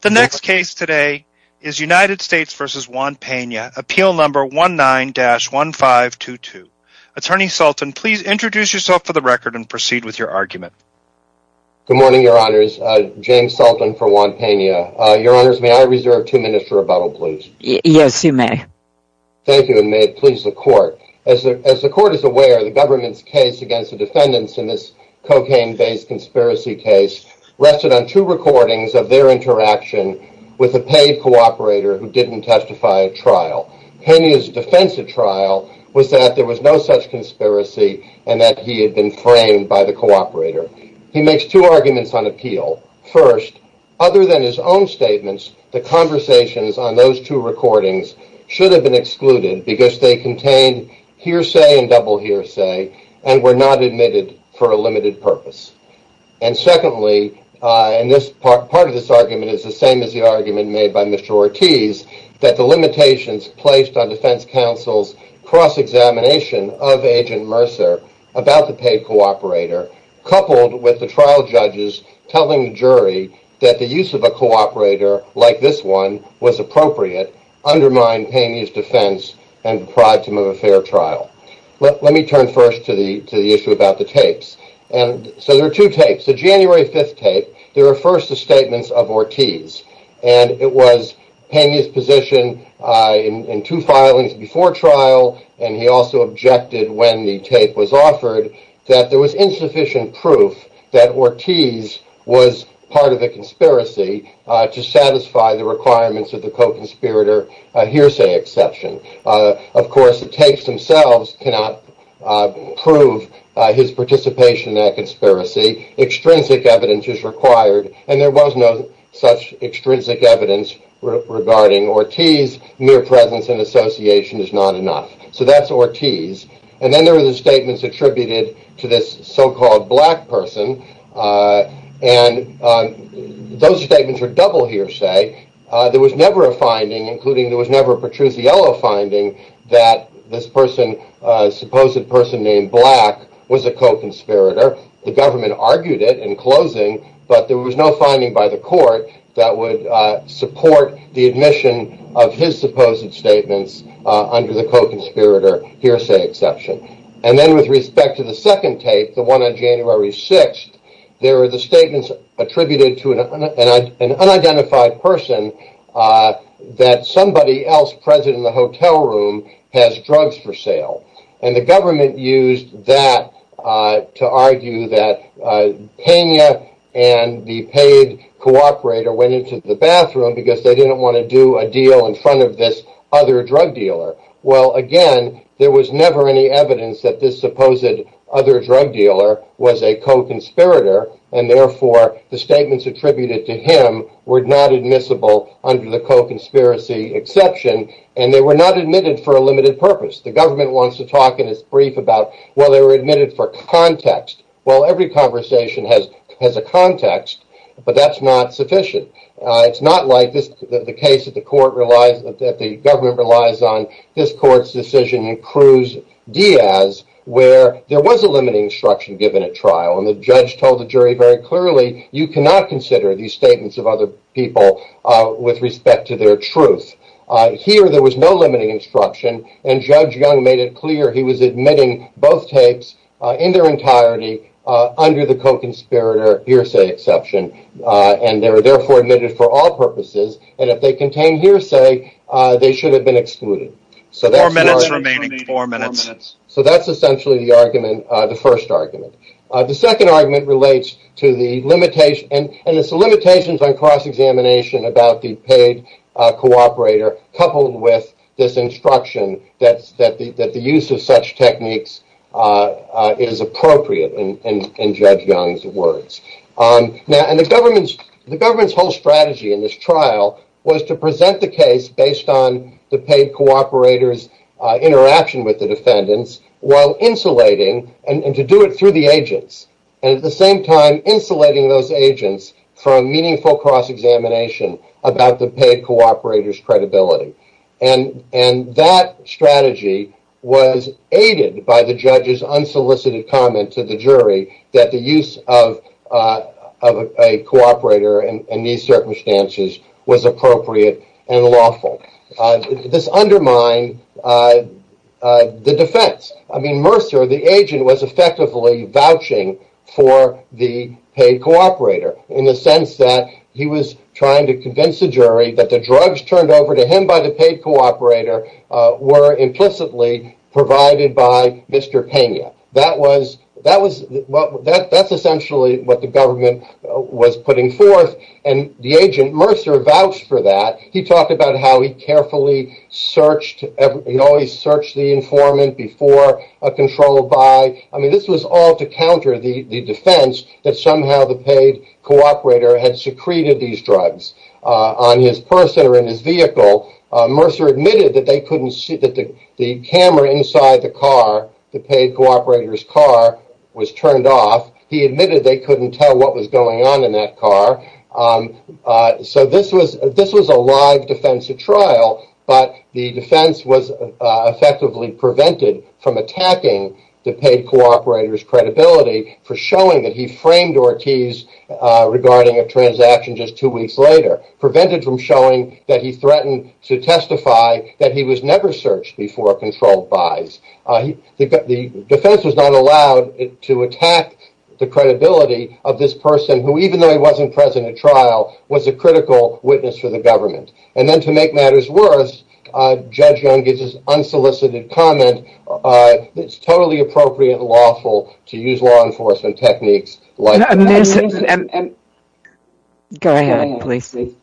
The next case today is United States v. Juan Pena, appeal number 19-1522. Attorney Sultan, please introduce yourself for the record and proceed with your argument. Good morning, your honors. James Sultan for Juan Pena. Your honors, may I reserve two minutes for rebuttal please? Yes, you may. Thank you, and may it please the court. As the court is aware, the government's case against the defendants in this cocaine-based conspiracy case rested on two recordings of their interaction with a paid cooperator who didn't testify at trial. Pena's defense at trial was that there was no such conspiracy and that he had been framed by the cooperator. He makes two arguments on appeal. First, other than his own statements, the conversations on those two recordings should have been excluded because they contained hearsay and double hearsay and were not admitted for a limited purpose. And secondly, part of this argument is the same as the argument made by Mr. Ortiz, that the limitations placed on defense counsel's cross-examination of Agent Mercer about the paid cooperator, coupled with the trial judges telling the jury that the use of a cooperator like this one was appropriate, undermined Pena's defense and deprived him of a fair trial. Let me turn first to the issue about the tapes. There are two tapes. The January 5th tape refers to statements of Ortiz. It was Pena's position in two filings before trial, and he also objected when the tape was offered, that there was insufficient proof that Ortiz was part of the conspiracy to satisfy the requirements of the co-conspirator hearsay exception. Of course, the tapes themselves cannot prove his participation in that conspiracy. Extrinsic evidence is required, and there was no such extrinsic evidence regarding Ortiz. Mere presence and association is not enough. So that's Ortiz. And then there are the statements attributed to this so-called black person, and those statements are double hearsay. There was never a finding, including there was never a Petruzziello finding, that this person, a supposed person named Black, was a co-conspirator. The government argued it in closing, but there was no finding by the court that would support the admission of his supposed statements under the co-conspirator hearsay exception. And then with respect to the second tape, the one on January 6th, there are the statements attributed to an unidentified person that somebody else present in the hotel room has drugs for sale. And the government used that to argue that Kenya and the paid cooperator went into the bathroom because they didn't want to do a deal in front of this other drug dealer. Well, again, there was never any evidence that this supposed other drug dealer was a co-conspirator, and therefore the statements attributed to him were not admissible under the co-conspiracy exception, and they were not admitted for a limited purpose. The government wants to talk in its brief about, well, they were admitted for context. Well, every conversation has a context, but that's not sufficient. It's not like the case that the government relies on. This court's decision in Cruz-Diaz, where there was a limiting instruction given at trial, and the judge told the jury very clearly, you cannot consider these statements of other people with respect to their truth. Here there was no limiting instruction, and Judge Young made it clear he was admitting both tapes in their entirety under the co-conspirator hearsay exception, and they were therefore admitted for all purposes, and if they contained hearsay, they should have been excluded. Four minutes remaining. Four minutes. So that's essentially the first argument. The second argument relates to the limitations on cross-examination about the paid cooperator, coupled with this instruction that the use of such techniques is appropriate, in Judge Young's words. The government's whole strategy in this trial was to present the case based on the paid cooperator's interaction with the defendants while insulating, and to do it through the agents, and at the same time insulating those agents from meaningful cross-examination about the paid cooperator's credibility, and that strategy was aided by the judge's unsolicited comment to the jury that the use of a cooperator in these circumstances was appropriate and lawful. This undermined the defense. I mean, Mercer, the agent, was effectively vouching for the paid cooperator in the sense that he was trying to convince the jury that the drugs turned over to him by the paid cooperator were implicitly provided by Mr. Pena. That's essentially what the government was putting forth, and the agent, Mercer, vouched for that. He talked about how he carefully searched the informant before a controlled buy. I mean, this was all to counter the defense that somehow the paid cooperator had secreted these drugs on his person or in his vehicle. Mercer admitted that the camera inside the car, the paid cooperator's car, was turned off. He admitted they couldn't tell what was going on in that car. So this was a live defense at trial, but the defense was effectively prevented from attacking the paid cooperator's credibility for showing that he framed Ortiz regarding a transaction just two weeks later, prevented from showing that he threatened to testify that he was never searched before a controlled buys. The defense was not allowed to attack the credibility of this person, who, even though he wasn't present at trial, was a critical witness for the government. And then, to make matters worse, Judge Young gives this unsolicited comment that it's totally appropriate and lawful to use law enforcement techniques like that. Go ahead, please. I'm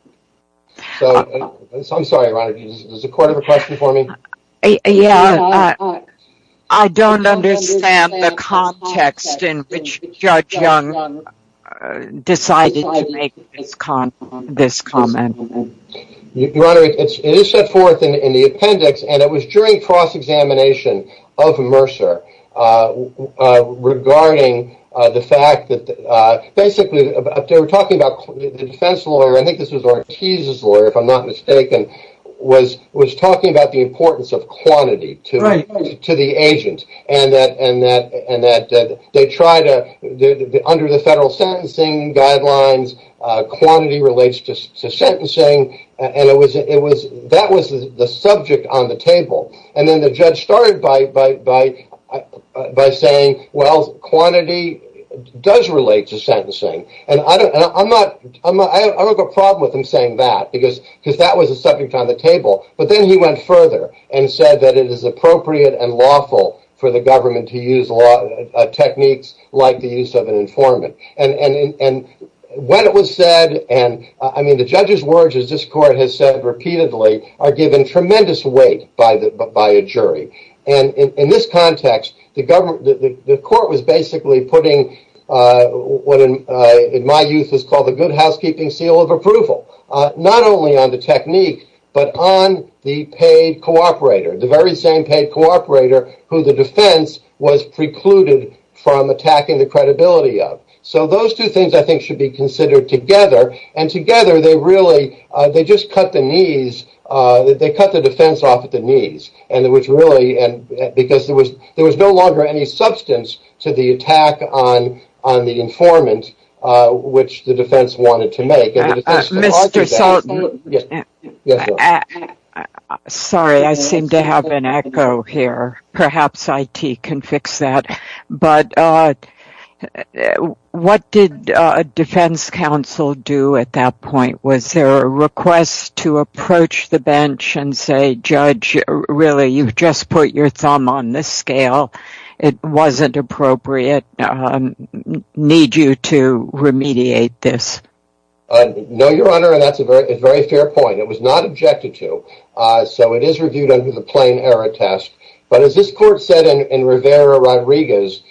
sorry, Your Honor, does the court have a question for me? Yeah, I don't understand the context in which Judge Young decided to make this comment. Your Honor, it is set forth in the appendix, and it was during cross-examination of Mercer regarding the fact that, basically, they were talking about the defense lawyer, I think this was Ortiz's lawyer, if I'm not mistaken, was talking about the importance of quantity to the agent, and that under the federal sentencing guidelines, quantity relates to sentencing, and that was the subject on the table. And then the judge started by saying, well, quantity does relate to sentencing. And I don't have a problem with him saying that, because that was the subject on the table. But then he went further and said that it is appropriate and lawful for the government to use techniques like the use of an informant. And when it was said, and I mean, the judge's words, as this court has said repeatedly, are given tremendous weight by a jury. And in this context, the court was basically putting what, in my youth, was called the good housekeeping seal of approval, not only on the technique, but on the paid cooperator, the very same paid cooperator who the defense was precluded from attacking the credibility of. So those two things, I think, should be considered together, and together they really just cut the defense off at the knees, because there was no longer any substance to the attack on the informant, which the defense wanted to make. Sorry, I seem to have an echo here. Perhaps IT can fix that. But what did defense counsel do at that point? Was there a request to approach the bench and say, judge, really, you've just put your thumb on the scale. It wasn't appropriate. Need you to remediate this? No, Your Honor, and that's a very fair point. It was not objected to, so it is reviewed under the plain error test. But as this court said in Rivera-Rodriguez,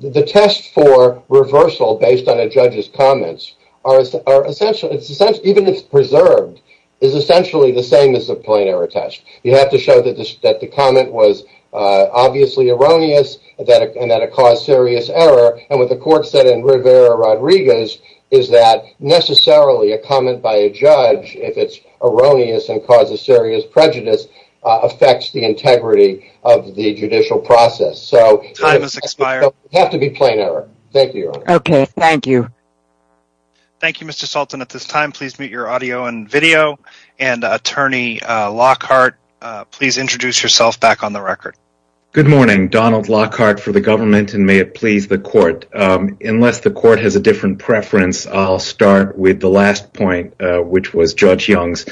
the test for reversal based on a judge's comments, even if preserved, is essentially the same as the plain error test. You have to show that the comment was obviously erroneous and that it caused serious error, and what the court said in Rivera-Rodriguez is that necessarily a comment by a judge, if it's erroneous and causes serious prejudice, affects the integrity of the judicial process. So it doesn't have to be plain error. Thank you, Your Honor. Okay, thank you. Thank you, Mr. Sultan. At this time, please mute your audio and video. And, Attorney Lockhart, please introduce yourself back on the record. Good morning. Donald Lockhart for the government, and may it please the court. Unless the court has a different preference, I'll start with the last point, which was Judge Young's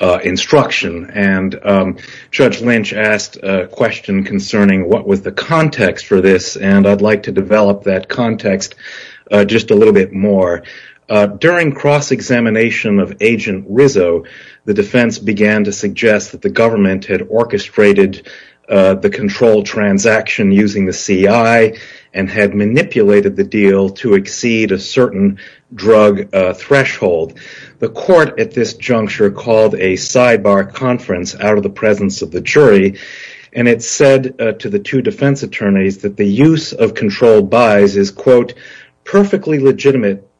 instruction. And Judge Lynch asked a question concerning what was the context for this, and I'd like to develop that context just a little bit more. During cross-examination of Agent Rizzo, the defense began to suggest that the government had orchestrated the control transaction using the CI and had manipulated the deal to exceed a certain drug threshold. The court at this juncture called a sidebar conference out of the presence of the jury, and it said to the two defense attorneys that the use of controlled buys is, quote, a perfectly legitimate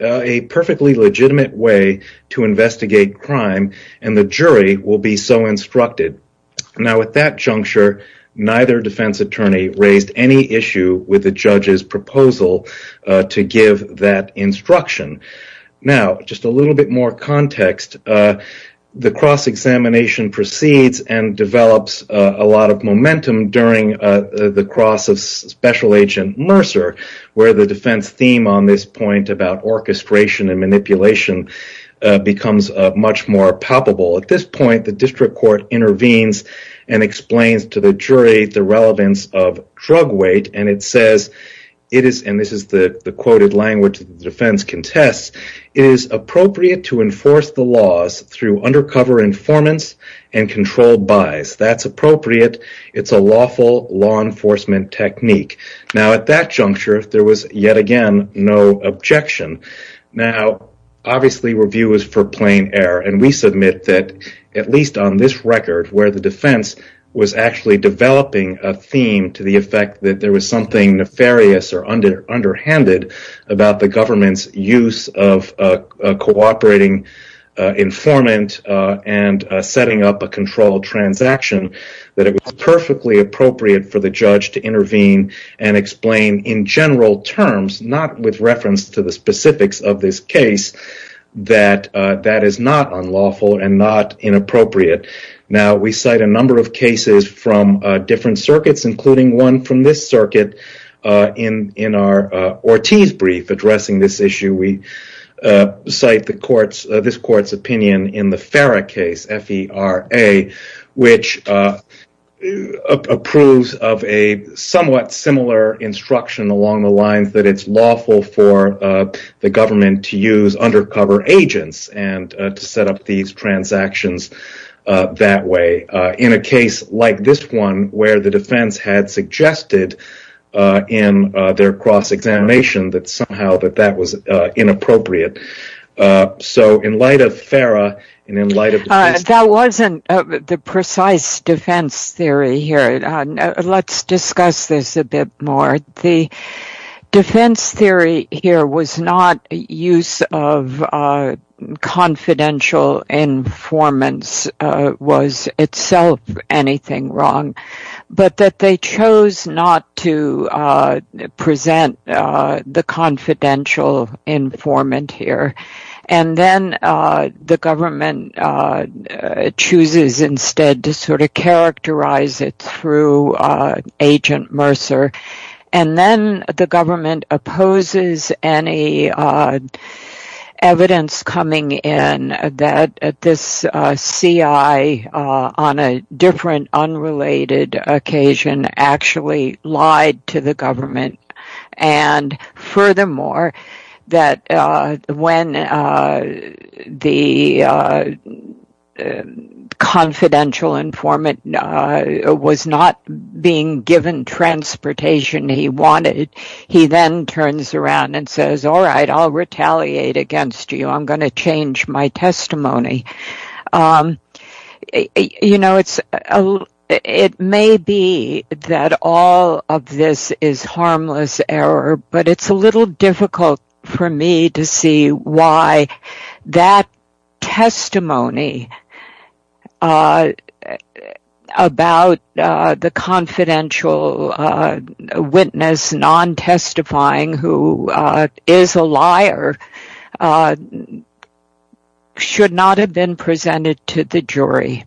way to investigate crime, and the jury will be so instructed. Now, at that juncture, neither defense attorney raised any issue with the judge's proposal to give that instruction. Now, just a little bit more context. The cross-examination proceeds and develops a lot of momentum during the cross of Special Agent Mercer, where the defense theme on this point about orchestration and manipulation becomes much more palpable. At this point, the district court intervenes and explains to the jury the relevance of drug weight, and it says, and this is the quoted language the defense contests, it is appropriate to enforce the laws through undercover informants and controlled buys. That's appropriate. It's a lawful law enforcement technique. Now, at that juncture, there was, yet again, no objection. Now, obviously, review is for plain error, and we submit that, at least on this record, where the defense was actually developing a theme to the effect that there was something nefarious or underhanded about the government's use of a cooperating informant and setting up a controlled transaction, that it was perfectly appropriate for the judge to intervene and explain in general terms, not with reference to the specifics of this case, that that is not unlawful and not inappropriate. Now, we cite a number of cases from different circuits, including one from this circuit. In our Ortiz brief addressing this issue, we cite this court's opinion in the FARA case, F-E-R-A, which approves of a somewhat similar instruction along the lines that it's lawful for the government to use undercover agents and to set up these transactions that way, in a case like this one, where the defense had suggested in their cross-examination that somehow that that was inappropriate. That wasn't the precise defense theory here. Let's discuss this a bit more. The defense theory here was not the use of confidential informants was itself anything wrong, but that they chose not to present the confidential informant here. And then the government chooses instead to sort of characterize it through Agent Mercer. And then the government opposes any evidence coming in that this C.I. on a different, unrelated occasion actually lied to the government. And furthermore, that when the confidential informant was not being given transportation he wanted, he then turns around and says, all right, I'll retaliate against you. I'm going to change my testimony. You know, it may be that all of this is harmless error, but it's a little difficult for me to see why that testimony about the confidential witness non-testifying, who is a liar, should not have been presented to the jury.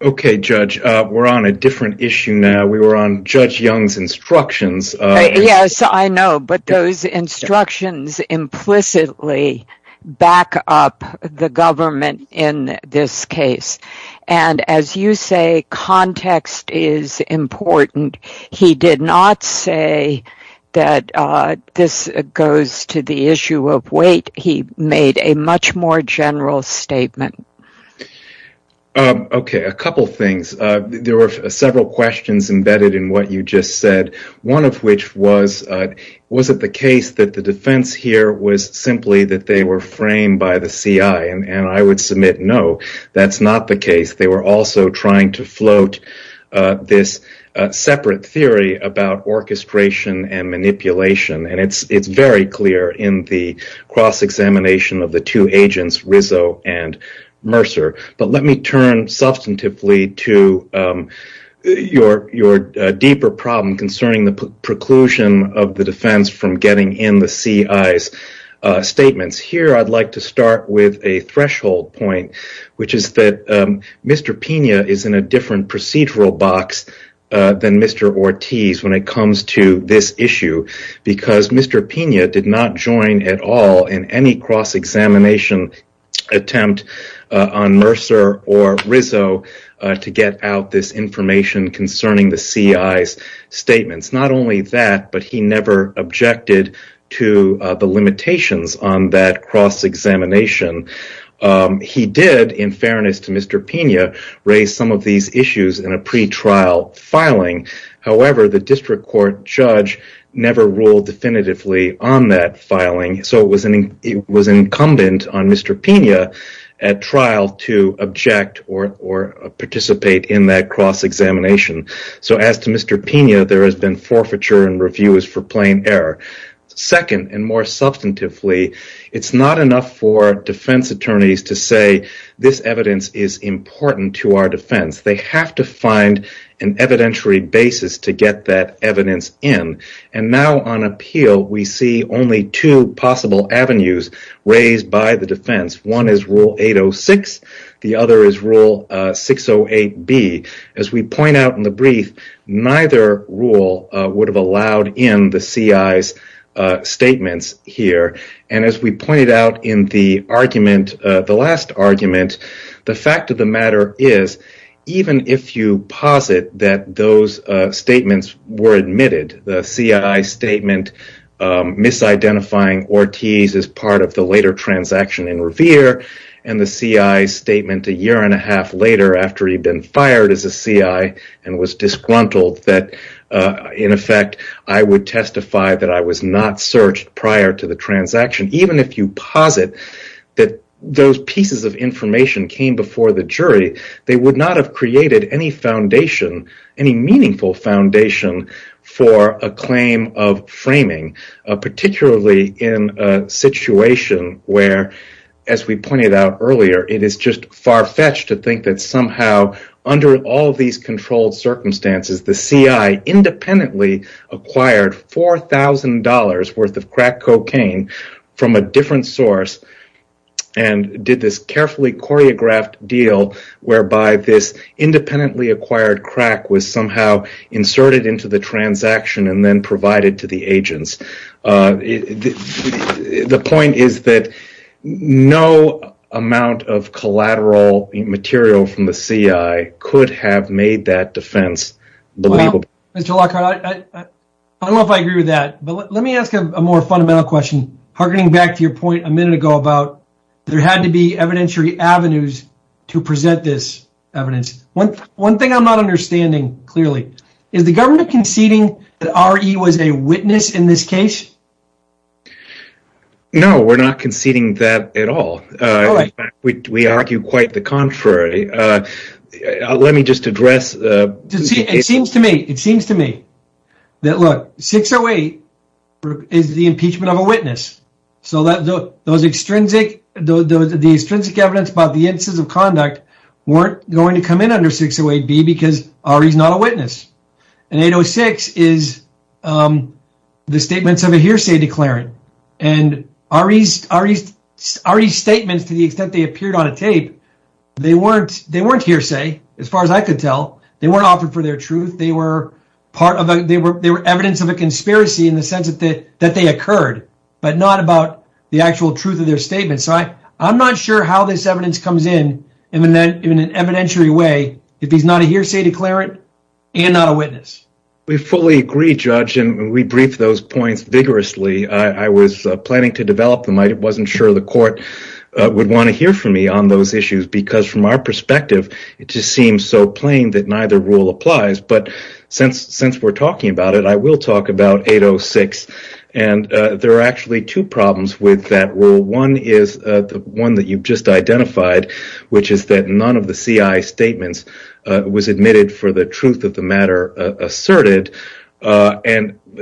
Okay, Judge. We're on a different issue now. We were on Judge Young's instructions. Yes, I know, but those instructions implicitly back up the government in this case. And as you say, context is important. He did not say that this goes to the issue of weight. He made a much more general statement. Okay, a couple things. There were several questions embedded in what you just said. One of which was, was it the case that the defense here was simply that they were framed by the C.I.? And I would submit, no, that's not the case. They were also trying to float this separate theory about orchestration and manipulation. And it's very clear in the cross-examination of the two agents, Rizzo and Mercer. But let me turn substantively to your deeper problem concerning the preclusion of the defense from getting in the C.I.'s statements. Here I'd like to start with a threshold point, which is that Mr. Pena is in a different procedural box than Mr. Ortiz when it comes to this issue. Because Mr. Pena did not join at all in any cross-examination attempt on Mercer or Rizzo to get out this information concerning the C.I.'s statements. Not only that, but he never objected to the limitations on that cross-examination. He did, in fairness to Mr. Pena, raise some of these issues in a pre-trial filing. However, the district court judge never ruled definitively on that filing. So it was incumbent on Mr. Pena at trial to object or participate in that cross-examination. So as to Mr. Pena, there has been forfeiture and reviews for plain error. Second, and more substantively, it's not enough for defense attorneys to say this evidence is important to our defense. They have to find an evidentiary basis to get that evidence in. And now on appeal, we see only two possible avenues raised by the defense. One is Rule 806. The other is Rule 608B. As we point out in the brief, neither rule would have allowed in the C.I.'s statements here. As we pointed out in the last argument, the fact of the matter is, even if you posit that those statements were admitted, the C.I.'s statement misidentifying Ortiz as part of the later transaction in Revere, and the C.I.'s statement a year and a half later after he'd been fired as a C.I. and was disgruntled, in effect, I would testify that I was not searched prior to the transaction. Even if you posit that those pieces of information came before the jury, they would not have created any meaningful foundation for a claim of framing, particularly in a situation where, as we pointed out earlier, it is just far-fetched to think that somehow, under all these controlled circumstances, the C.I. independently acquired $4,000 worth of crack cocaine from a different source and did this carefully choreographed deal whereby this independently acquired crack was somehow inserted into the transaction and then provided to the agents. The point is that no amount of collateral material from the C.I. could have made that defense believable. Mr. Lockhart, I don't know if I agree with that, but let me ask a more fundamental question, hearkening back to your point a minute ago about there had to be evidentiary avenues to present this evidence. One thing I'm not understanding, clearly, is the government conceding that R.E. was a witness in this case? No, we're not conceding that at all. In fact, we argue quite the contrary. It seems to me that 608 is the impeachment of a witness. The extrinsic evidence about the instances of conduct weren't going to come in under 608B because R.E. is not a witness. 806 is the statements of a hearsay declarant. R.E.'s statements, to the extent they appeared on a tape, they weren't hearsay, as far as I could tell. They weren't offered for their truth. They were evidence of a conspiracy in the sense that they occurred. But not about the actual truth of their statements. I'm not sure how this evidence comes in in an evidentiary way if he's not a hearsay declarant and not a witness. We fully agree, Judge, and we briefed those points vigorously. I was planning to develop them. I wasn't sure the court would want to hear from me on those issues because, from our perspective, it just seems so plain that neither rule applies. Since we're talking about it, I will talk about 806. There are actually two problems with that rule. One is the one that you've just identified, which is that none of the CI's statements was admitted for the truth of the matter asserted.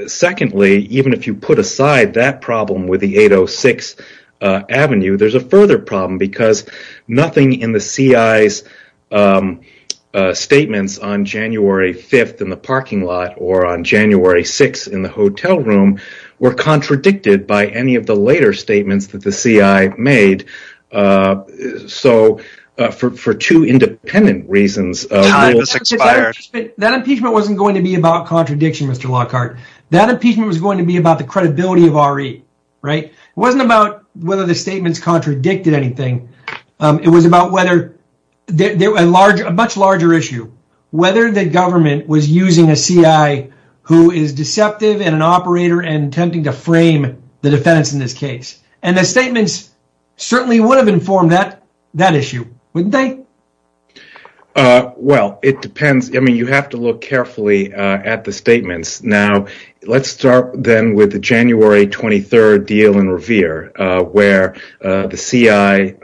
Secondly, even if you put aside that problem with the 806 avenue, there's a further problem because nothing in the CI's statements on January 5th in the parking lot or on January 6th in the hotel room were contradicted by any of the later statements that the CI made. So, for two independent reasons... Time has expired. That impeachment wasn't going to be about contradiction, Mr. Lockhart. That impeachment was going to be about the credibility of RE. It wasn't about whether the statements contradicted anything. It was about a much larger issue, whether the government was using a CI who is deceptive and an operator and attempting to frame the defense in this case. The statements certainly would have informed that issue, wouldn't they? Well, it depends. You have to look carefully at the statements. Now, let's start then with the January 23rd deal in Revere where the CI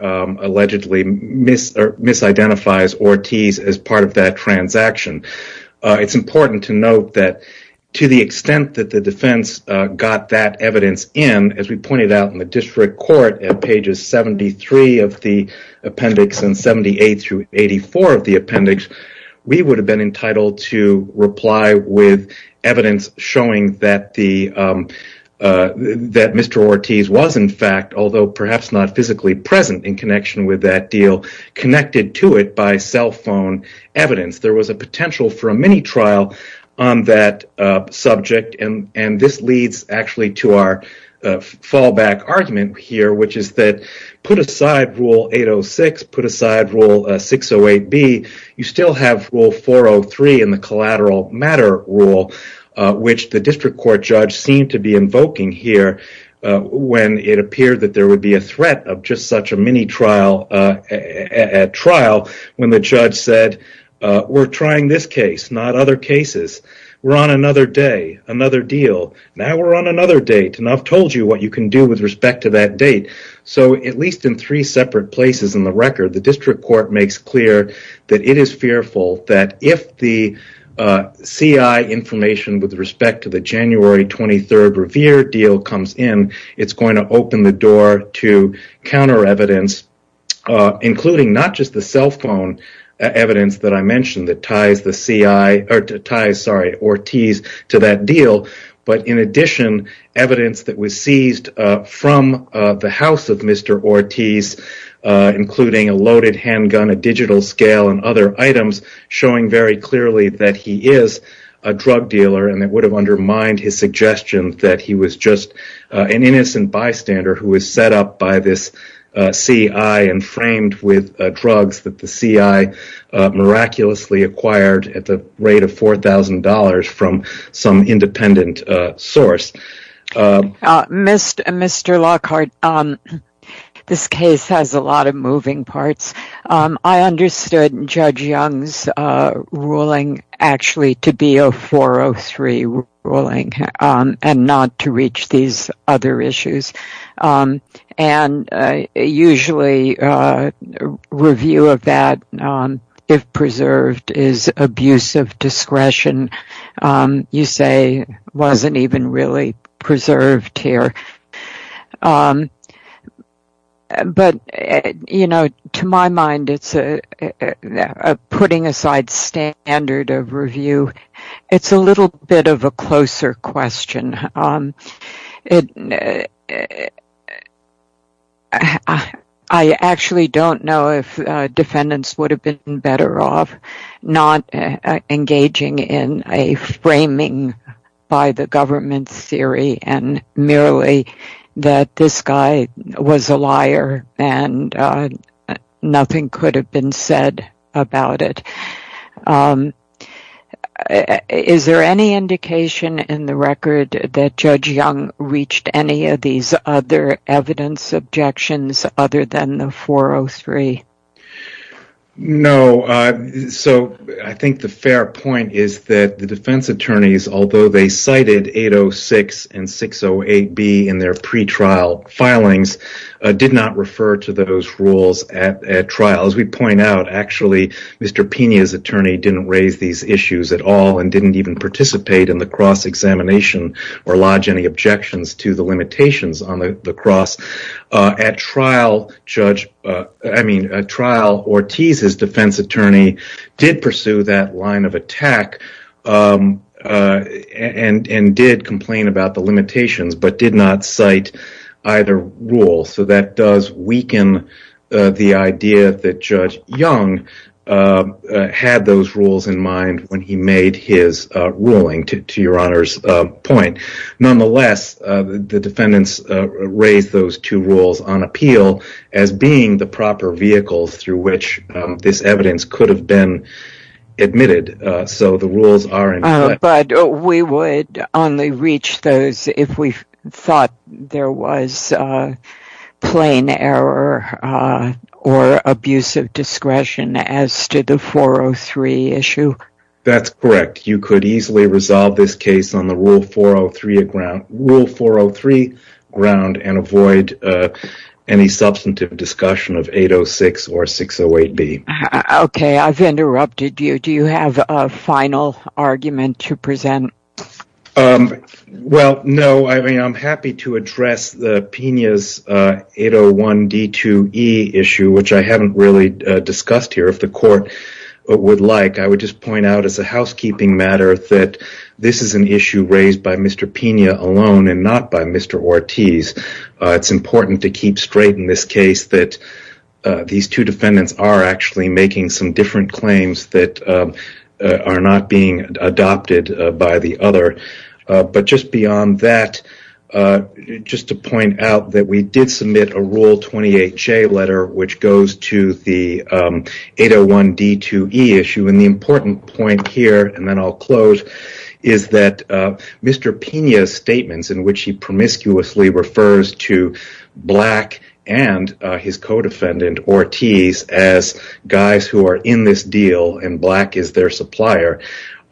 allegedly misidentifies Ortiz as part of that transaction. It's important to note that to the extent that the defense got that evidence in, as we pointed out in the district court at pages 73 of the appendix and 78 through 84 of the appendix, we would have been entitled to reply with evidence showing that Mr. Ortiz was in fact, although perhaps not physically present in connection with that deal, connected to it by cell phone evidence. There was a potential for a mini-trial on that subject, and this leads actually to our fallback argument here, which is that put aside Rule 806, put aside Rule 608B, you still have Rule 403 in the collateral matter rule, which the district court judge seemed to be invoking here when it appeared that there would be a threat of just such a mini-trial at trial when the judge said, we're trying this case, not other cases. We're on another day, another deal. Now we're on another date, and I've told you what you can do with respect to that date. At least in three separate places in the record, the district court makes clear that it is fearful that if the CI information with respect to the January 23rd Revere deal comes in, it's going to open the door to counter-evidence, including not just the cell phone evidence that I mentioned that ties Ortiz to that deal, but in addition, evidence that was seized from the house of Mr. Ortiz, including a loaded handgun, a digital scale, and other items showing very clearly that he is a drug dealer, and it would have undermined his suggestion that he was just an innocent bystander who was set up by this CI and framed with drugs that the CI miraculously acquired at the rate of $4,000 from some independent source. Mr. Lockhart, this case has a lot of moving parts. I understood Judge Young's ruling actually to be a 403 ruling and not to reach these other issues. Usually, review of that, if preserved, is abuse of discretion. You say it wasn't even really preserved here. To my mind, it's a putting-aside standard of review. It's a little bit of a closer question. I actually don't know if defendants would have been better off not engaging in a framing by the government's theory and merely that this guy was a liar and nothing could have been said about it. Is there any indication in the record that Judge Young reached any of these other evidence objections other than the 403? No. I think the fair point is that the defense attorneys, although they cited 806 and 608B in their pretrial filings, did not refer to those rules at trial. As we point out, actually, Mr. Pena's attorney didn't raise these issues at all and didn't even participate in the cross-examination or lodge any objections to the limitations on the cross. At trial, Ortiz's defense attorney did pursue that line of attack and did complain about the limitations but did not cite either rule. That does weaken the idea that Judge Young had those rules in mind when he made his ruling, to Your Honor's point. Nonetheless, the defendants raised those two rules on appeal as being the proper vehicle through which this evidence could have been admitted. But we would only reach those if we thought there was plain error or abuse of discretion as to the 403 issue? That's correct. You could easily resolve this case on the rule 403 ground and avoid any substantive discussion of 806 or 608B. Okay, I've interrupted you. Do you have a final argument to present? Well, no. I'm happy to address Pena's 801D2E issue, which I haven't really discussed here. If the court would like, I would just point out as a housekeeping matter that this is an issue raised by Mr. Pena alone and not by Mr. Ortiz. It's important to keep straight in this case that these two defendants are actually making some different claims that are not being adopted by the other. But just beyond that, just to point out that we did submit a Rule 28J letter which goes to the 801D2E issue. The important point here, and then I'll close, is that Mr. Pena's statements in which he promiscuously refers to Black and his co-defendant, Ortiz, as guys who are in this deal and Black is their supplier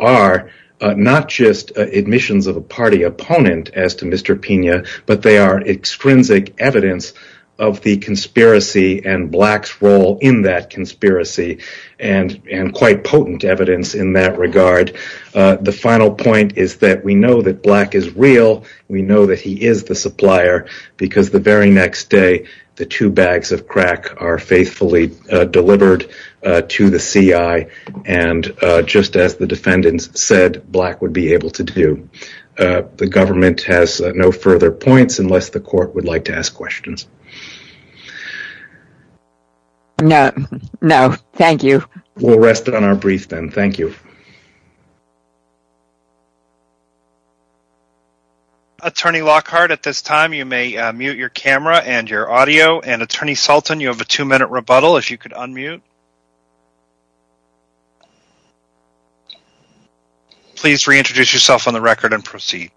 are not just admissions of a party opponent as to Mr. Pena, but they are extrinsic evidence of the conspiracy and Black's role in that conspiracy and quite potent evidence in that regard. The final point is that we know that Black is real. We know that he is the supplier because the very next day, the two bags of crack are faithfully delivered to the CI and just as the defendants said Black would be able to do. The government has no further points unless the court would like to ask questions. No, thank you. We'll rest on our brief then. Thank you. Attorney Lockhart, at this time you may mute your camera and your audio and Attorney Sultan, you have a two minute rebuttal if you could unmute. Please reintroduce yourself on the record and proceed.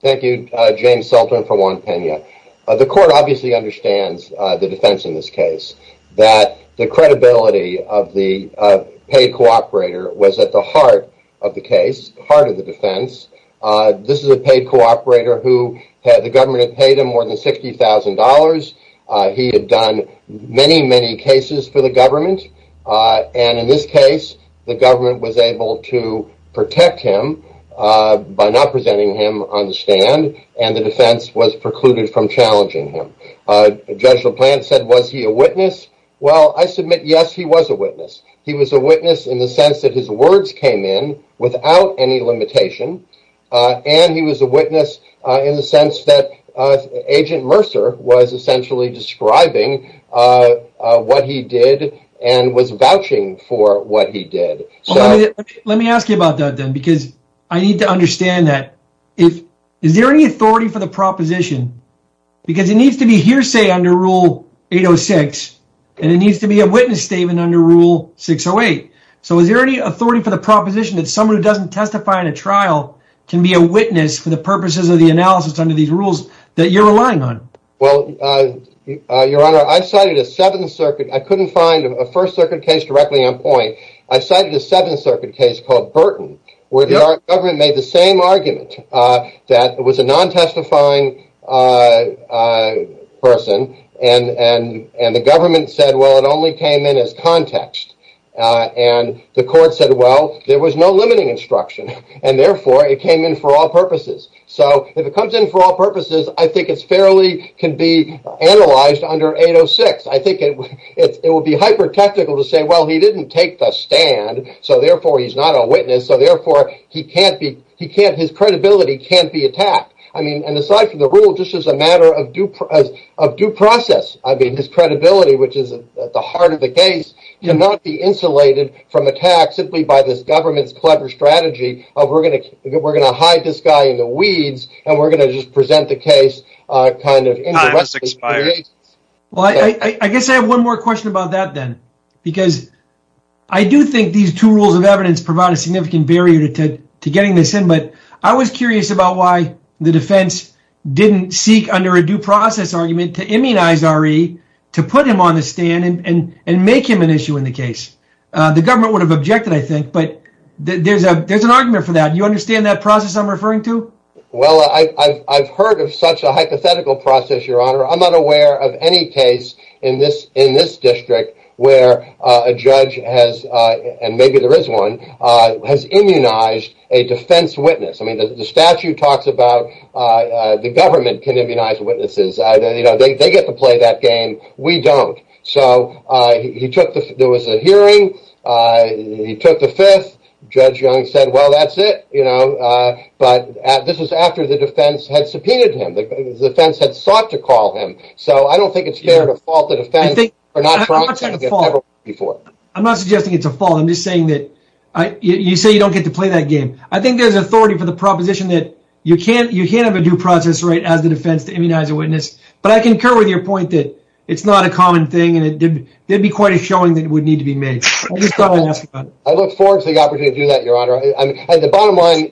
Thank you, James Sultan for Juan Pena. The court obviously understands the defense in this case, that the credibility of the paid cooperator was at the heart of the case, the heart of the defense. This is a paid cooperator who the government had paid him more than $60,000. He had done many, many cases for the government. And in this case, the government was able to protect him by not presenting him on the stand. And the defense was precluded from challenging him. Judge LaPlante said, was he a witness? Well, I submit, yes, he was a witness. He was a witness in the sense that his words came in without any limitation. And he was a witness in the sense that Agent Mercer was essentially describing what he did and was vouching for what he did. Let me ask you about that then, because I need to understand that. Is there any authority for the proposition? Because it needs to be hearsay under Rule 806 and it needs to be a witness statement under Rule 608. So is there any authority for the proposition that someone who doesn't testify in a trial can be a witness for the purposes of the analysis under these rules that you're relying on? Well, Your Honor, I cited a Seventh Circuit, I couldn't find a First Circuit case directly on point. I cited a Seventh Circuit case called Burton, where the government made the same argument that it was a non-testifying person. And the government said, well, it only came in as context. And the court said, well, there was no limiting instruction and therefore it came in for all purposes. So if it comes in for all purposes, I think it's fairly can be analyzed under 806. I think it would be hyper technical to say, well, he didn't take the stand, so therefore he's not a witness. So therefore he can't be he can't his credibility can't be attacked. I mean, and aside from the rule, this is a matter of due process. I mean, his credibility, which is at the heart of the case, cannot be insulated from attack simply by this government's clever strategy. We're going to we're going to hide this guy in the weeds and we're going to just present the case kind of. Well, I guess I have one more question about that then, because I do think these two rules of evidence provide a significant barrier to getting this in. But I was curious about why the defense didn't seek under a due process argument to immunize Ari to put him on the stand and make him an issue in the case. The government would have objected, I think, but there's a there's an argument for that. You understand that process I'm referring to? Well, I've heard of such a hypothetical process, your honor. I'm not aware of any case in this in this district where a judge has. And maybe there is one has immunized a defense witness. I mean, the statute talks about the government can immunize witnesses. They get to play that game. We don't. So he took the there was a hearing. He took the fifth. Judge Young said, well, that's it. You know, but this is after the defense had subpoenaed him. The defense had sought to call him. So I don't think it's fair to fault the defense. I think we're not trying to get before. I'm not suggesting it's a fault. I'm just saying that you say you don't get to play that game. I think there's authority for the proposition that you can't you can't have a due process rate as the defense to immunize a witness. But I concur with your point that it's not a common thing. And it did be quite a showing that would need to be made. I look forward to the opportunity to do that, Your Honor. And the bottom line,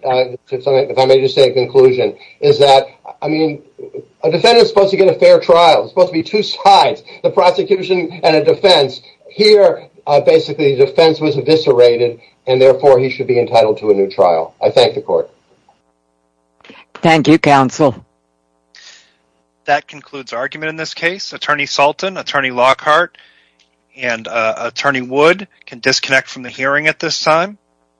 if I may just say a conclusion is that, I mean, a defendant is supposed to get a fair trial. It's supposed to be two sides, the prosecution and a defense here. Basically, the defense was eviscerated and therefore he should be entitled to a new trial. I thank the court. Thank you, counsel. That concludes argument in this case. Attorney Salton, Attorney Lockhart and Attorney Wood can disconnect from the hearing at this time.